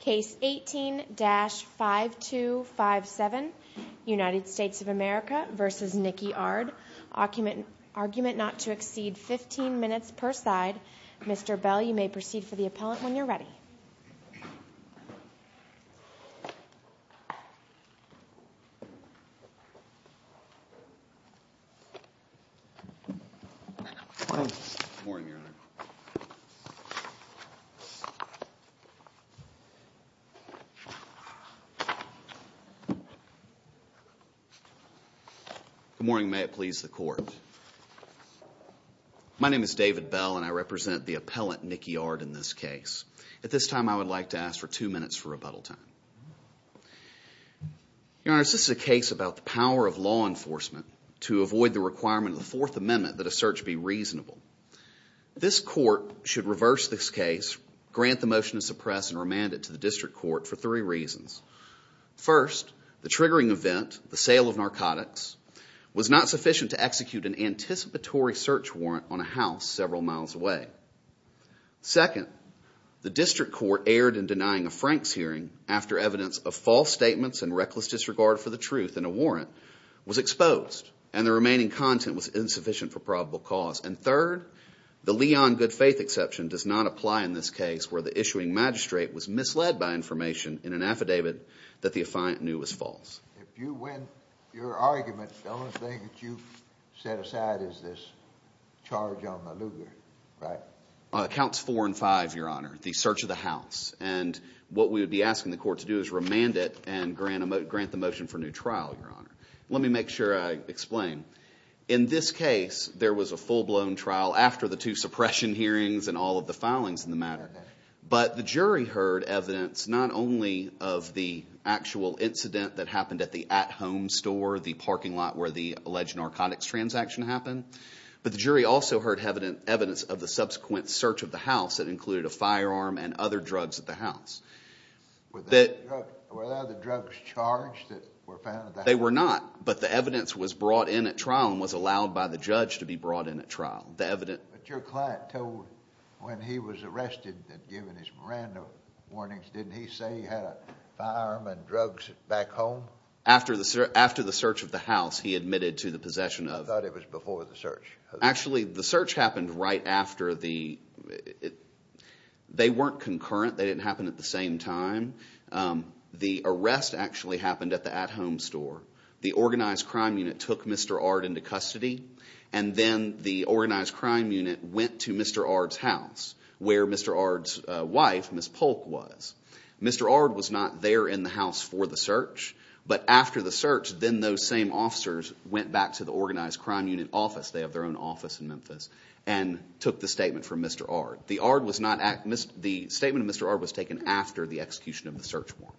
Case 18-5257 United States of America v. Nickey Ardd Argument not to exceed 15 minutes per side Mr. Bell, you may proceed for the appellant when you're ready Good morning. May it please the court. My name is David Bell, and I represent the appellant Nickey Ardd in this case. At this time, I would like to ask for two minutes for rebuttal time. Your Honor, this is a case about the power of law enforcement to avoid the requirement of the Fourth Amendment that a search be reasonable. This court should reverse this case, grant the motion to suppress and remand it to the district court for three reasons. First, the triggering event, the sale of narcotics, was not sufficient to execute an anticipatory search warrant on a house several miles away. Second, the district court erred in denying a Franks hearing after evidence of false statements and reckless disregard for the truth in a warrant was exposed and the remaining content was insufficient for probable cause. And third, the Leon good faith exception does not apply in this case where the issuing magistrate was misled by information in an affidavit that the affiant knew was false. If you win your argument, the only thing that you set aside is this charge on the Lugar, right? It counts four and five, Your Honor, the search of the house. And what we would be asking the court to do is remand it and grant the motion for new trial, Your Honor. Let me make sure I explain. In this case, there was a full-blown trial after the two suppression hearings and all of the filings in the matter. But the jury heard evidence not only of the actual incident that happened at the at-home store, the parking lot where the alleged narcotics transaction happened, but the jury also heard evidence of the subsequent search of the house that included a firearm and other drugs at the house. They were not, but the evidence was brought in at trial and was allowed by the judge to be brought in at trial. But your client told, when he was arrested and given his Miranda warnings, didn't he say he had a firearm and drugs back home? After the search of the house, he admitted to the possession of. I thought it was before the search. Actually, the search happened right after the, they weren't concurrent. They didn't The organized crime unit took Mr. Ard into custody, and then the organized crime unit went to Mr. Ard's house, where Mr. Ard's wife, Ms. Polk, was. Mr. Ard was not there in the house for the search, but after the search, then those same officers went back to the organized crime unit office, they have their own office in Memphis, and took the statement from Mr. Ard. The statement from Mr. Ard was taken after the execution of the search warrant.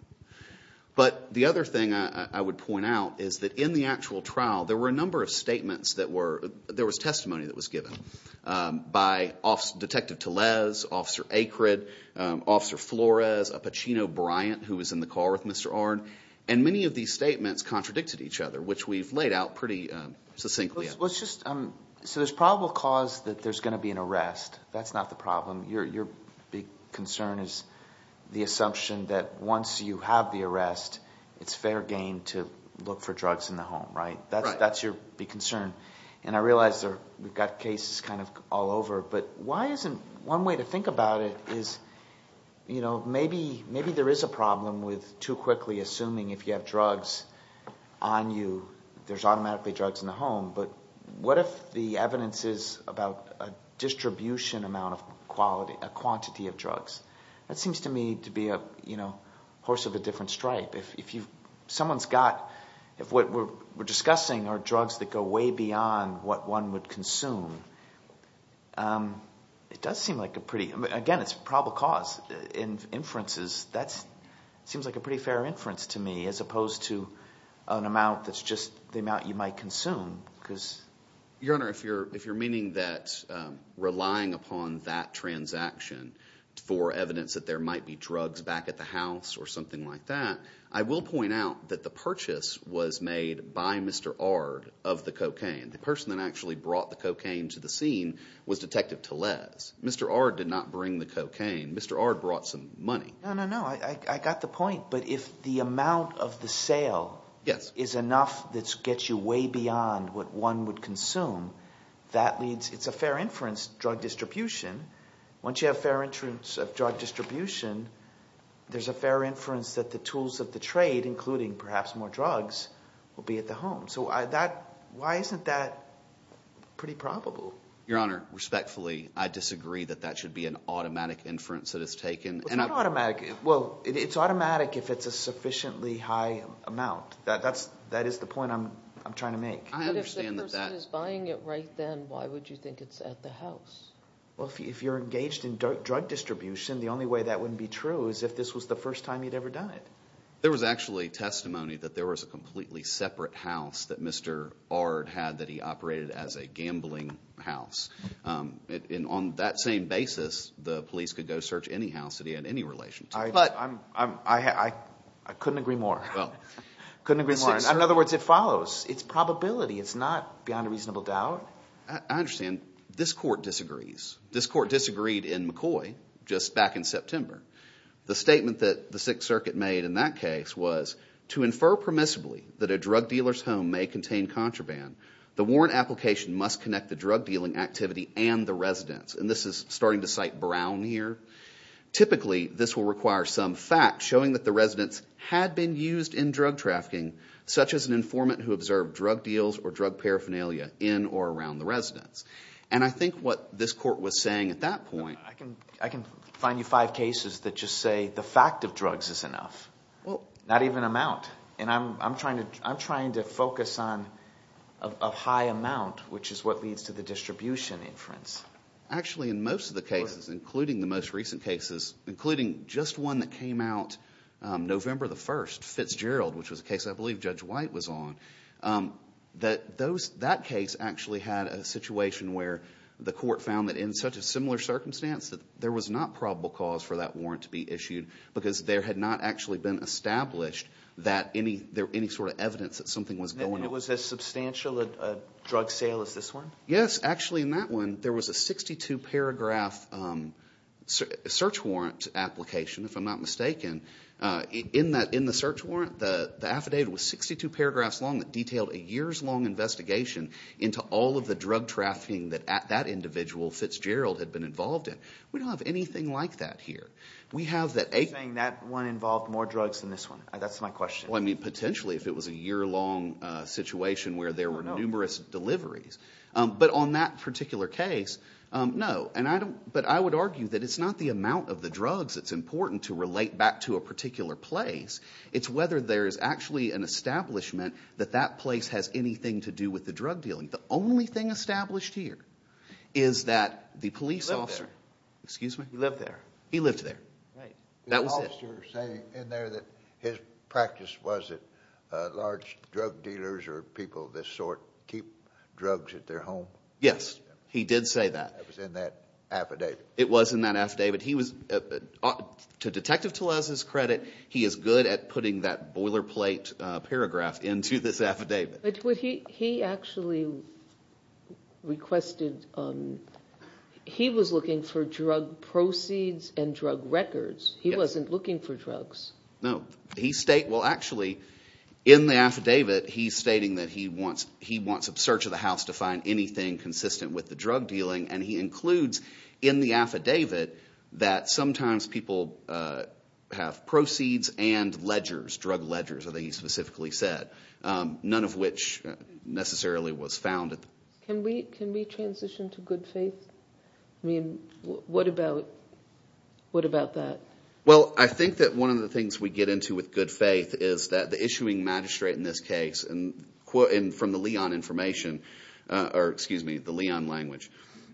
But the other thing I would point out is that in the actual trial, there were a number of statements that were, there was testimony that was given by Detective Tellez, Officer Akrid, Officer Flores, a Pacino Bryant who was in the car with Mr. Ard, and many of these statements contradicted each other, which we've laid out pretty succinctly. Let's just, so there's probable cause that there's going to be an arrest. That's not the problem. Your big concern is the assumption that once you have the arrest, it's fair game to look for drugs in the home, right? That's your big concern. And I realize we've got cases kind of all over, but why isn't, one way to think about it is, you know, maybe there is a problem with too quickly assuming if you have drugs on you, there's automatically drugs in the home, but what if the evidence is about a distribution amount of quality, a quantity of drugs? That seems to me to be a, you know, horse of a different stripe. If someone's got, if what we're discussing are drugs that go way beyond what one would consume, it does seem like a pretty, again, it's probable cause. In inferences, that seems like a pretty fair inference to me, as opposed to an amount that's just the amount you might consume, because... Your Honor, if you're meaning that relying upon that transaction for evidence that there might be drugs back at the house or something like that, I will point out that the purchase was made by Mr. Ard of the cocaine. The person that actually brought the cocaine to the scene was Detective Tellez. Mr. Ard did not bring the cocaine. Mr. Ard brought some money. No, no, no, I got the point, but if the amount of the sale is enough that gets you way beyond what one would consume, that means it's a fair inference drug distribution. Once you have a fair inference of drug distribution, there's a fair inference that the tools of the trade, including perhaps more drugs, will be at the home. So why isn't that pretty probable? Your Honor, respectfully, I disagree that that should be an automatic inference that is taken. It's not automatic. Well, it's automatic if it's a sufficiently high amount. That is the point I'm trying to make. But if the person is buying it right then, why would you think it's at the house? Well, if you're engaged in drug distribution, the only way that wouldn't be true is if this was the first time he'd ever died. There was actually testimony that there was a completely separate house that Mr. Ard had that he operated as a gambling house. And on that same basis, the police could go search any house that I couldn't agree more. In other words, it follows. It's probability. It's not beyond a reasonable doubt. I understand. This court disagrees. This court disagreed in McCoy just back in September. The statement that the Sixth Circuit made in that case was, to infer permissibly that a drug dealer's home may contain contraband, the warrant application must connect the drug dealing activity and the residence. And this is starting to cite around here. Typically, this will require some fact showing that the residence had been used in drug trafficking, such as an informant who observed drug deals or drug paraphernalia in or around the residence. And I think what this court was saying at that point... I can find you five cases that just say the fact of drugs is enough. Not even amount. And I'm trying to focus on a high amount, which is what leads to the distribution inference. Actually, in most of the cases, including the most recent cases, including just one that came out November the 1st, Fitzgerald, which was a case I believe Judge White was on, that case actually had a situation where the court found that in such a similar circumstance that there was not probable cause for that warrant to be issued because there had not actually been established that any sort of evidence that something was going on. It was as substantial a drug sale as this one? Yes. Actually, in that one, there was a 62-paragraph search warrant application, if I'm not mistaken. In the search warrant, the affidavit was 62 paragraphs long that detailed a years-long investigation into all of the drug trafficking that that individual, Fitzgerald, had been involved in. We don't have anything like that here. You're saying that one involved more drugs than this one? That's my question. Potentially, if it was a year-long situation where there were numerous deliveries. But on that particular case, no. I would argue that it's not the amount of the drugs that's important to relate back to a particular place. It's whether there's actually an establishment that that place has anything to do with the drug dealing. The only thing established here is that the police officer... He lived there. Excuse me? He lived there. He lived there. That was it. Was the police officer saying in there that his practice was that large drug dealers or people of this sort keep drugs at their home? Yes, he did say that. It was in that affidavit. It was in that affidavit. To Detective Tellez's credit, he is good at putting that boilerplate paragraph into this affidavit. But he actually requested... He was looking for drug proceeds and drug records. He wasn't looking for drugs. No. He state... Well, actually, in the affidavit, he's stating that he wants a search of the house to find anything consistent with the drug dealing. And he includes in the affidavit that sometimes people have proceeds and ledgers, drug ledgers, as he specifically said, none of which necessarily was found. Can we transition to good faith? I mean, what about that? Well, I think that one of the things we get into with good faith is that the issuing magistrate in this case, and from the Leon information, or excuse me, the Leon language,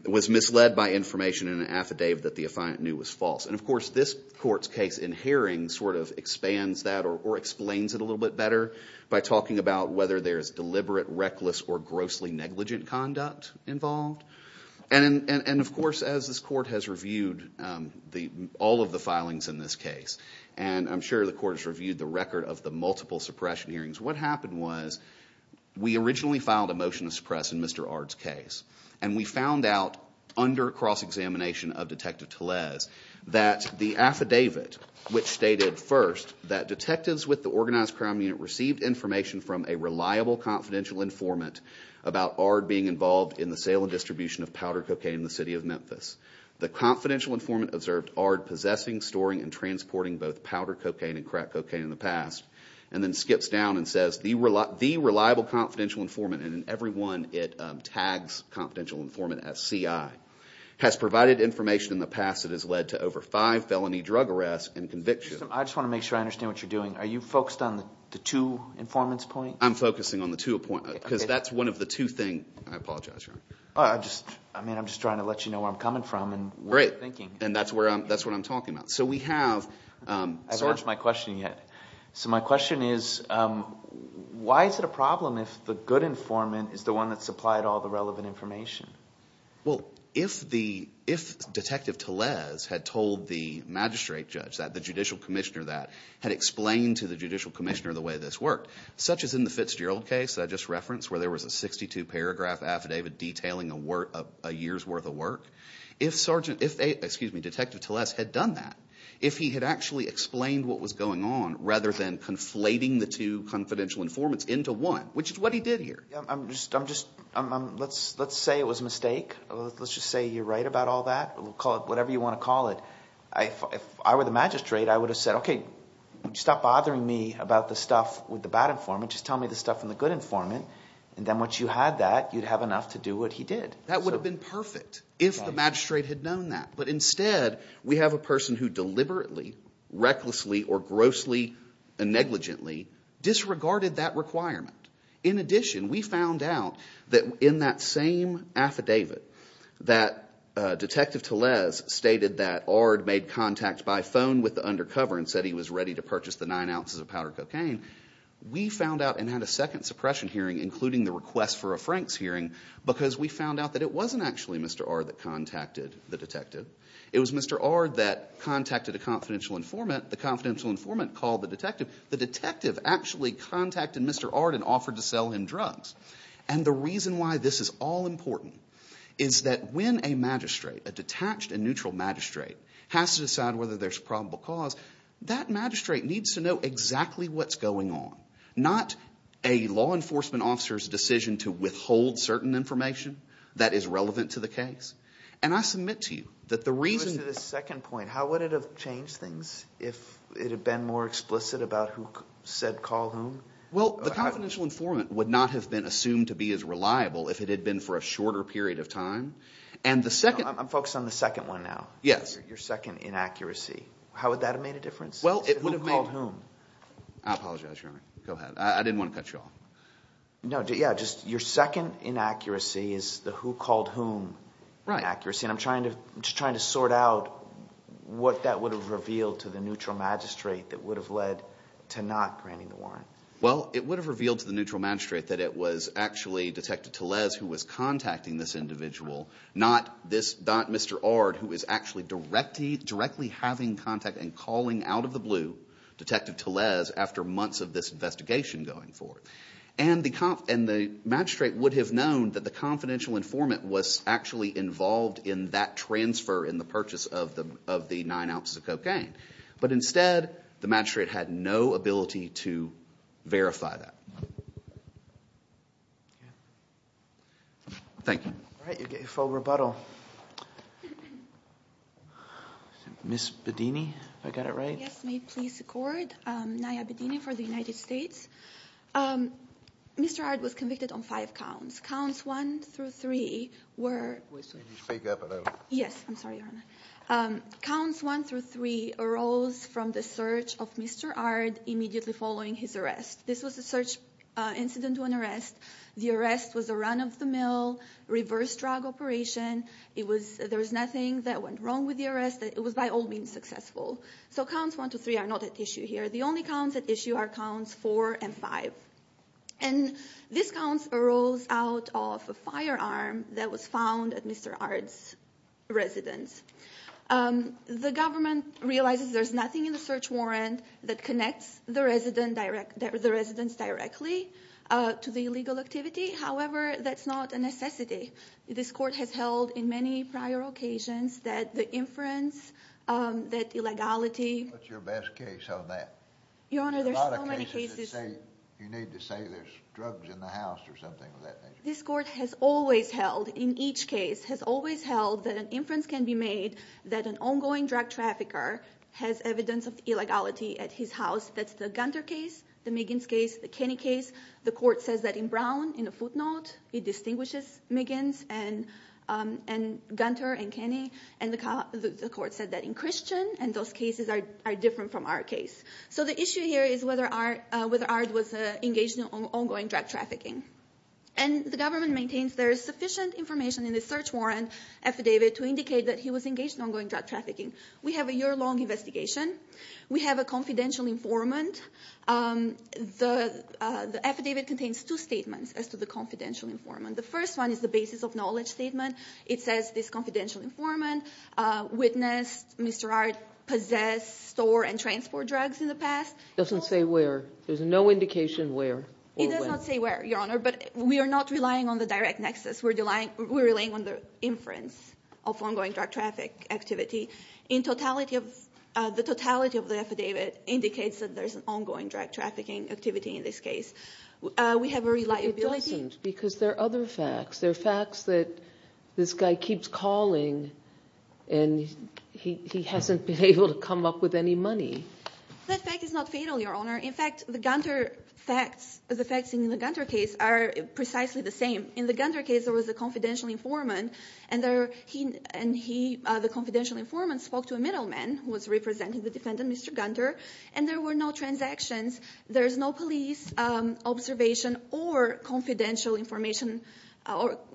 was misled by information in an affidavit that the affiant knew was false. And, of course, this court's case in Haring sort of expands that or explains it a little bit better by talking about whether there's deliberate, reckless, or grossly negligent conduct involved. And, of course, as this court has reviewed all of the filings in this case, and I'm sure the court has reviewed the record of the multiple suppression hearings, what happened was we originally filed a motion to suppress in Mr. Ard's case. And we found out under cross-examination of Detective Tellez that the affidavit, which stated first that detectives with the Organized Crime Unit received information from a reliable confidential informant about Ard being involved in the sale and distribution of powder cocaine in the city of Memphis. The confidential informant observed Ard possessing, storing, and transporting both powder cocaine and crack cocaine in the past, and then skips down and says, the reliable confidential informant, and in every one it tags confidential informant as CI, has provided information in the past that has led to over five felony drug arrests and convictions. I just want to make sure I understand what you're doing. Are you focused on the two informants' points? I'm focusing on the two appointments, because that's one of the two things. I apologize, Your Honor. I'm just trying to let you know where I'm coming from and what I'm thinking. Great. And that's what I'm talking about. So we have... I haven't asked my question yet. So my question is, why is it a problem if the good informant is the one that supplied all the relevant information? Well, if Detective Tellez had told the magistrate judge, the judicial commissioner that, had in the Fitzgerald case that I just referenced, where there was a 62-paragraph affidavit detailing a year's worth of work, if Detective Tellez had done that, if he had actually explained what was going on, rather than conflating the two confidential informants into one, which is what he did here... Let's say it was a mistake. Let's just say you're right about all that. Call it whatever you want to call it. If I were the magistrate, I would have said, okay, stop bothering me about the stuff with the bad informant. Just tell me the stuff from the good informant. And then once you had that, you'd have enough to do what he did. That would have been perfect if the magistrate had known that. But instead, we have a person who deliberately, recklessly, or grossly and negligently disregarded that requirement. In addition, we found out that in that same affidavit that Detective Tellez stated that Ard made contact by phone with the undercover and said he was ready to purchase the nine We found out and had a second suppression hearing, including the request for a Franks hearing, because we found out that it wasn't actually Mr. Ard that contacted the detective. It was Mr. Ard that contacted a confidential informant. The confidential informant called the detective. The detective actually contacted Mr. Ard and offered to sell him drugs. And the reason why this is all important is that when a magistrate, a detached and neutral magistrate, has to decide whether there's probable cause, that magistrate needs to know exactly what's going on. Not a law enforcement officer's decision to withhold certain information that is relevant to the case. And I submit to you that the reason— Go to the second point. How would it have changed things if it had been more explicit about who said call whom? Well, the confidential informant would not have been assumed to be as reliable if it had been for a shorter period of time. And the second— I'm focused on the second one now. Yes. Your second inaccuracy. How would that have made a difference? Well, it would have made— Who called whom? I apologize, Your Honor. Go ahead. I didn't want to cut you off. No. Yeah. Just your second inaccuracy is the who called whom inaccuracy. Right. And I'm trying to sort out what that would have revealed to the neutral magistrate that would have led to not granting the warrant. Well, it would have revealed to the neutral magistrate that it was actually Detective Tellez who was contacting this individual, not Mr. Ard, who is actually directly having contact and calling out of the blue Detective Tellez after months of this investigation going forward. And the magistrate would have known that the confidential informant was actually involved in that transfer, in the purchase of the nine ounces of cocaine. But instead, the magistrate had no ability to verify that. Thank you. All right. You get your full rebuttal. Ms. Bedini, if I got it right? Yes. May it please the Court. Naya Bedini for the United States. Mr. Ard was convicted on five counts. Counts one through three were— Can you speak up a little? Yes. I'm sorry, Your Honor. Counts one through three arose from the search of Mr. Ard immediately following his arrest. This was a search incident to an arrest. The arrest was a run of the mill, reverse drug operation. There was nothing that went wrong with the arrest. It was by all means successful. So counts one through three are not at issue here. The only counts at issue are counts four and five. And these counts arose out of a firearm that was found at Mr. Ard's residence. The government realizes there's nothing in the search warrant that connects the residents directly to the illegal activity. However, that's not a necessity. This Court has held in many prior occasions that the inference, that illegality— What's your best case on that? Your Honor, there's so many cases— There's a lot of cases that say you need to say there's drugs in the house or something of that nature. This Court has always held, in each case, has always held that an inference can be made that an ongoing drug trafficker has evidence of illegality at his house. That's the Gunter case, the Miggins case, the Kenney case. The Court says that in Brown, in a footnote, it distinguishes Miggins and Gunter and Kenney. And the Court said that in Christian, and those cases are different from our case. So the issue here is whether Ard was engaged in ongoing drug trafficking. And the government maintains there is sufficient information in the search warrant affidavit to indicate that he was engaged in ongoing drug trafficking. We have a year-long investigation. We have a confidential informant. The affidavit contains two statements as to the confidential informant. The first one is the basis of knowledge statement. It says this confidential informant witnessed Mr. Ard possess, store, and transport drugs in the past. It doesn't say where. There's no indication where or when. It does not say where, Your Honor, but we are not relying on the direct nexus. We're relying on the inference of ongoing drug traffic activity. The totality of the affidavit indicates that there's an ongoing drug trafficking activity in this case. We have a reliability. It doesn't, because there are other facts. There are facts that this guy keeps calling, and he hasn't been able to come up with any money. That fact is not fatal, Your Honor. In fact, the Gunter facts, the facts in the Gunter case are precisely the same. In the Gunter case, there was a confidential informant, and he, the confidential informant, spoke to a middleman who was representing the defendant, Mr. Gunter, and there were no transactions. There's no police observation or confidential information,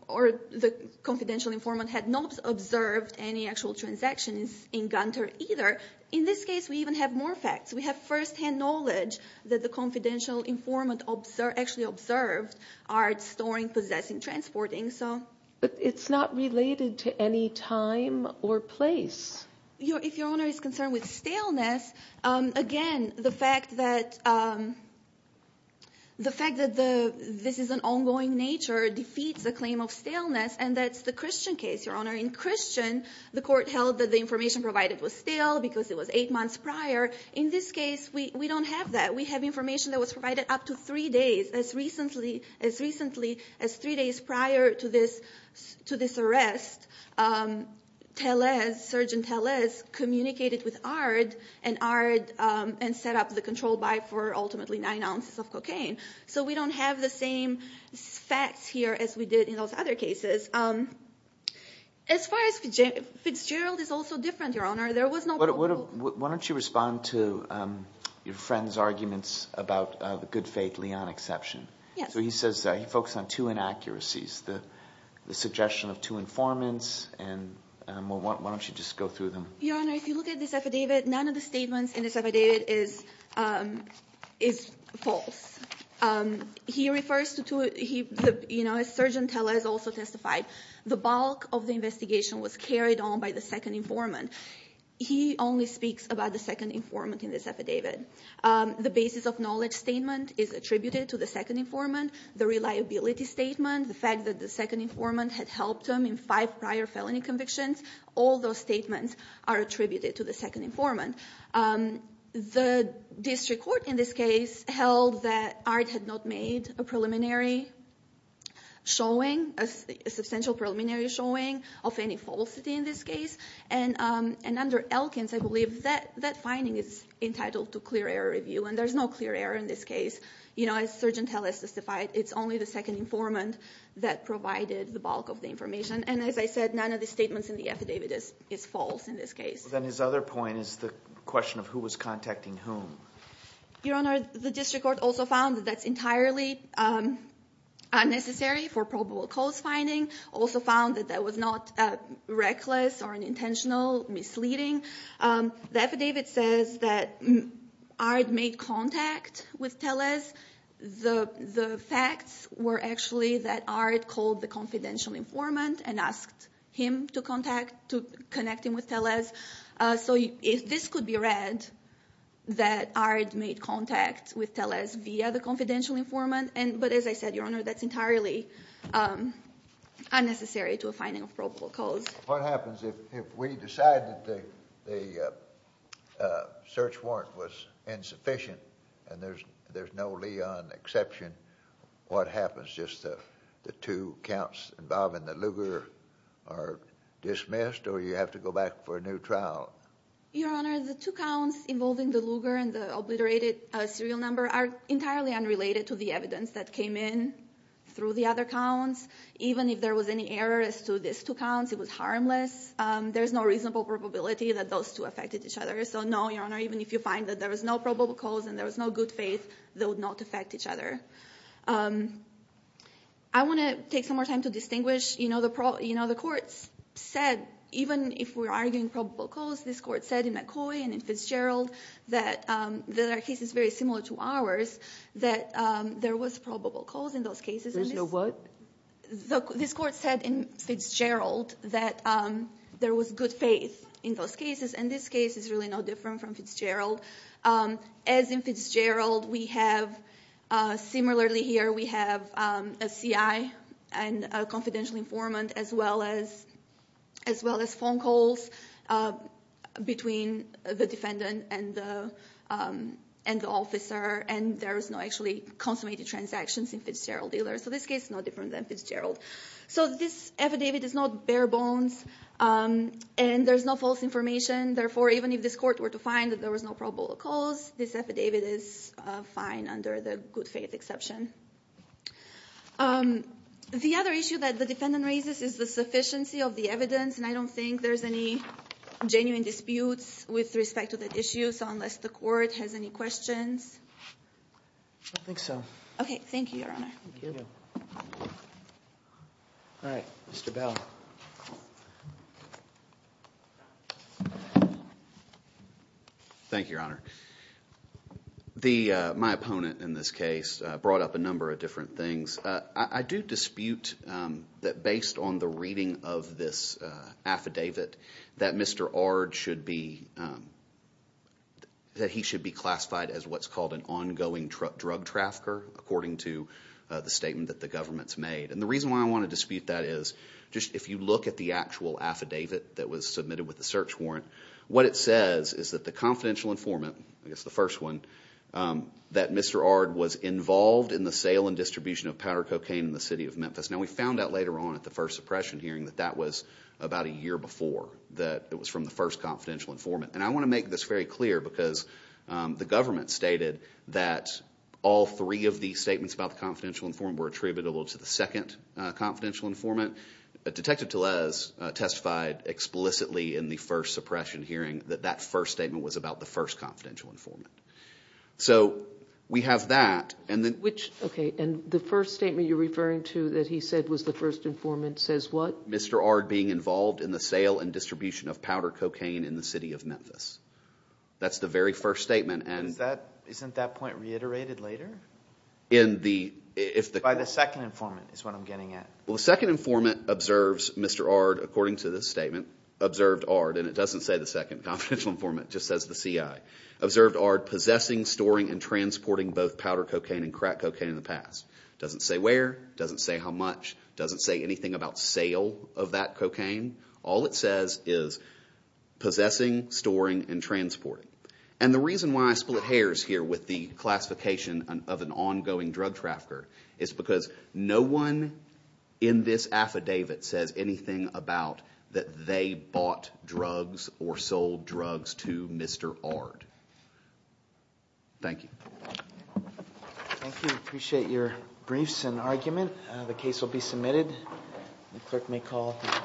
or the confidential informant had not observed any actual transactions in Gunter either. In this case, we even have more facts. We have firsthand knowledge that the confidential informant actually observed art, storing, possessing, transporting. But it's not related to any time or place. If Your Honor is concerned with staleness, again, the fact that this is an ongoing nature defeats the claim of staleness, and that's the Christian case, Your Honor. In Christian, the court held that the information provided was stale because it was eight months prior. In this case, we don't have that. We have information that was provided up to three days, as recently as three days prior to this arrest. Tellez, Sergeant Tellez, communicated with Ard, and Ard set up the control buy for ultimately nine ounces of cocaine. So we don't have the same facts here as we did in those other cases. As far as Fitzgerald, Fitzgerald is also different, Your Honor. Why don't you respond to your friend's arguments about the good faith Leon exception? So he says he focused on two inaccuracies, the suggestion of two informants, and why don't you just go through them? Your Honor, if you look at this affidavit, none of the statements in this affidavit is false. He refers to, as Sergeant Tellez also testified, the bulk of the investigation was carried on by the second informant. He only speaks about the second informant in this affidavit. The basis of knowledge statement is attributed to the second informant. The reliability statement, the fact that the second informant had helped him in five prior felony convictions, all those statements are attributed to the second informant. The district court in this case held that Art had not made a preliminary showing, a substantial preliminary showing of any falsity in this case. And under Elkins, I believe that finding is entitled to clear error review, and there's no clear error in this case. As Sergeant Tellez testified, it's only the second informant that provided the bulk of the information. And as I said, none of the statements in the affidavit is false in this case. Then his other point is the question of who was contacting whom. Your Honor, the district court also found that that's entirely unnecessary for probable cause finding. Also found that that was not reckless or an intentional misleading. The affidavit says that Art made contact with Tellez. The facts were actually that Art called the confidential informant and asked him to contact, to connect him with Tellez. So this could be read that Art made contact with Tellez via the confidential informant. But as I said, Your Honor, that's entirely unnecessary to a finding of probable cause. What happens if we decide that the search warrant was insufficient and there's no Leon exception? What happens? Just the two counts involving the Luger are dismissed or you have to go back for a new trial? Your Honor, the two counts involving the Luger and the obliterated serial number are entirely unrelated to the evidence that came in through the other counts. Even if there was any error as to these two counts, it was harmless. There's no reasonable probability that those two affected each other. So no, Your Honor, even if you find that there was no probable cause and there was no good faith, they would not affect each other. I want to take some more time to distinguish. The courts said, even if we're arguing probable cause, this court said in McCoy and Fitzgerald, that there are cases very similar to ours, that there was probable cause in those cases. There's no what? This court said in Fitzgerald that there was good faith in those cases. And this case is really no different from Fitzgerald. As in Fitzgerald, similarly here, we have a CI and a confidential informant, as well as phone calls between the defendant and the officer. And there's no actually consummated transactions in Fitzgerald dealers. So this case is no different than Fitzgerald. So this affidavit is not bare bones. And there's no false information. Therefore, even if this court were to find that there was no probable cause, this affidavit is fine under the good faith exception. The other issue that the defendant raises is the sufficiency of the evidence. And I don't think there's any genuine disputes with respect to that issue. So unless the court has any questions? I don't think so. OK, thank you, Your Honor. Thank you. All right, Mr. Bell. Thank you, Your Honor. My opponent in this case brought up a number of different things. I do dispute that based on the reading of this affidavit that Mr. Ard should be classified as what's called an ongoing drug trafficker, according to the statement that the government's made. And the reason why I want to dispute that is just if you look at the actual affidavit that was submitted with the search warrant, what it says is that the confidential informant, I guess the first one, that Mr. Ard was involved in the sale and distribution of powder cocaine in the city of Memphis. Now we found out later on at the first suppression hearing that that was about a year before, that it was from the first confidential informant. And I want to make this very clear because the government stated that all three of these statements about the confidential informant were attributable to the second confidential informant. Detective Tellez testified explicitly in the first suppression hearing that that first statement was about the first confidential informant. So we have that. Okay, and the first statement you're referring to that he said was the first informant says what? Mr. Ard being involved in the sale and distribution of powder cocaine in the city of Memphis. That's the very first statement. Isn't that point reiterated later? By the second informant is what I'm getting at. Well, the second informant observes Mr. Ard, according to this statement, observed Ard, and it doesn't say the second confidential informant, it just says the CI, observed Ard possessing, storing, and transporting both powder cocaine and crack cocaine in the past. It doesn't say where, it doesn't say how much, it doesn't say anything about sale of that cocaine. All it says is possessing, storing, and transporting. And the reason why I split hairs here with the classification of an ongoing drug trafficker is because no one in this affidavit says anything about that they bought drugs or sold drugs to Mr. Ard. Thank you. Thank you. I appreciate your briefs and argument. The case will be submitted. The clerk may call.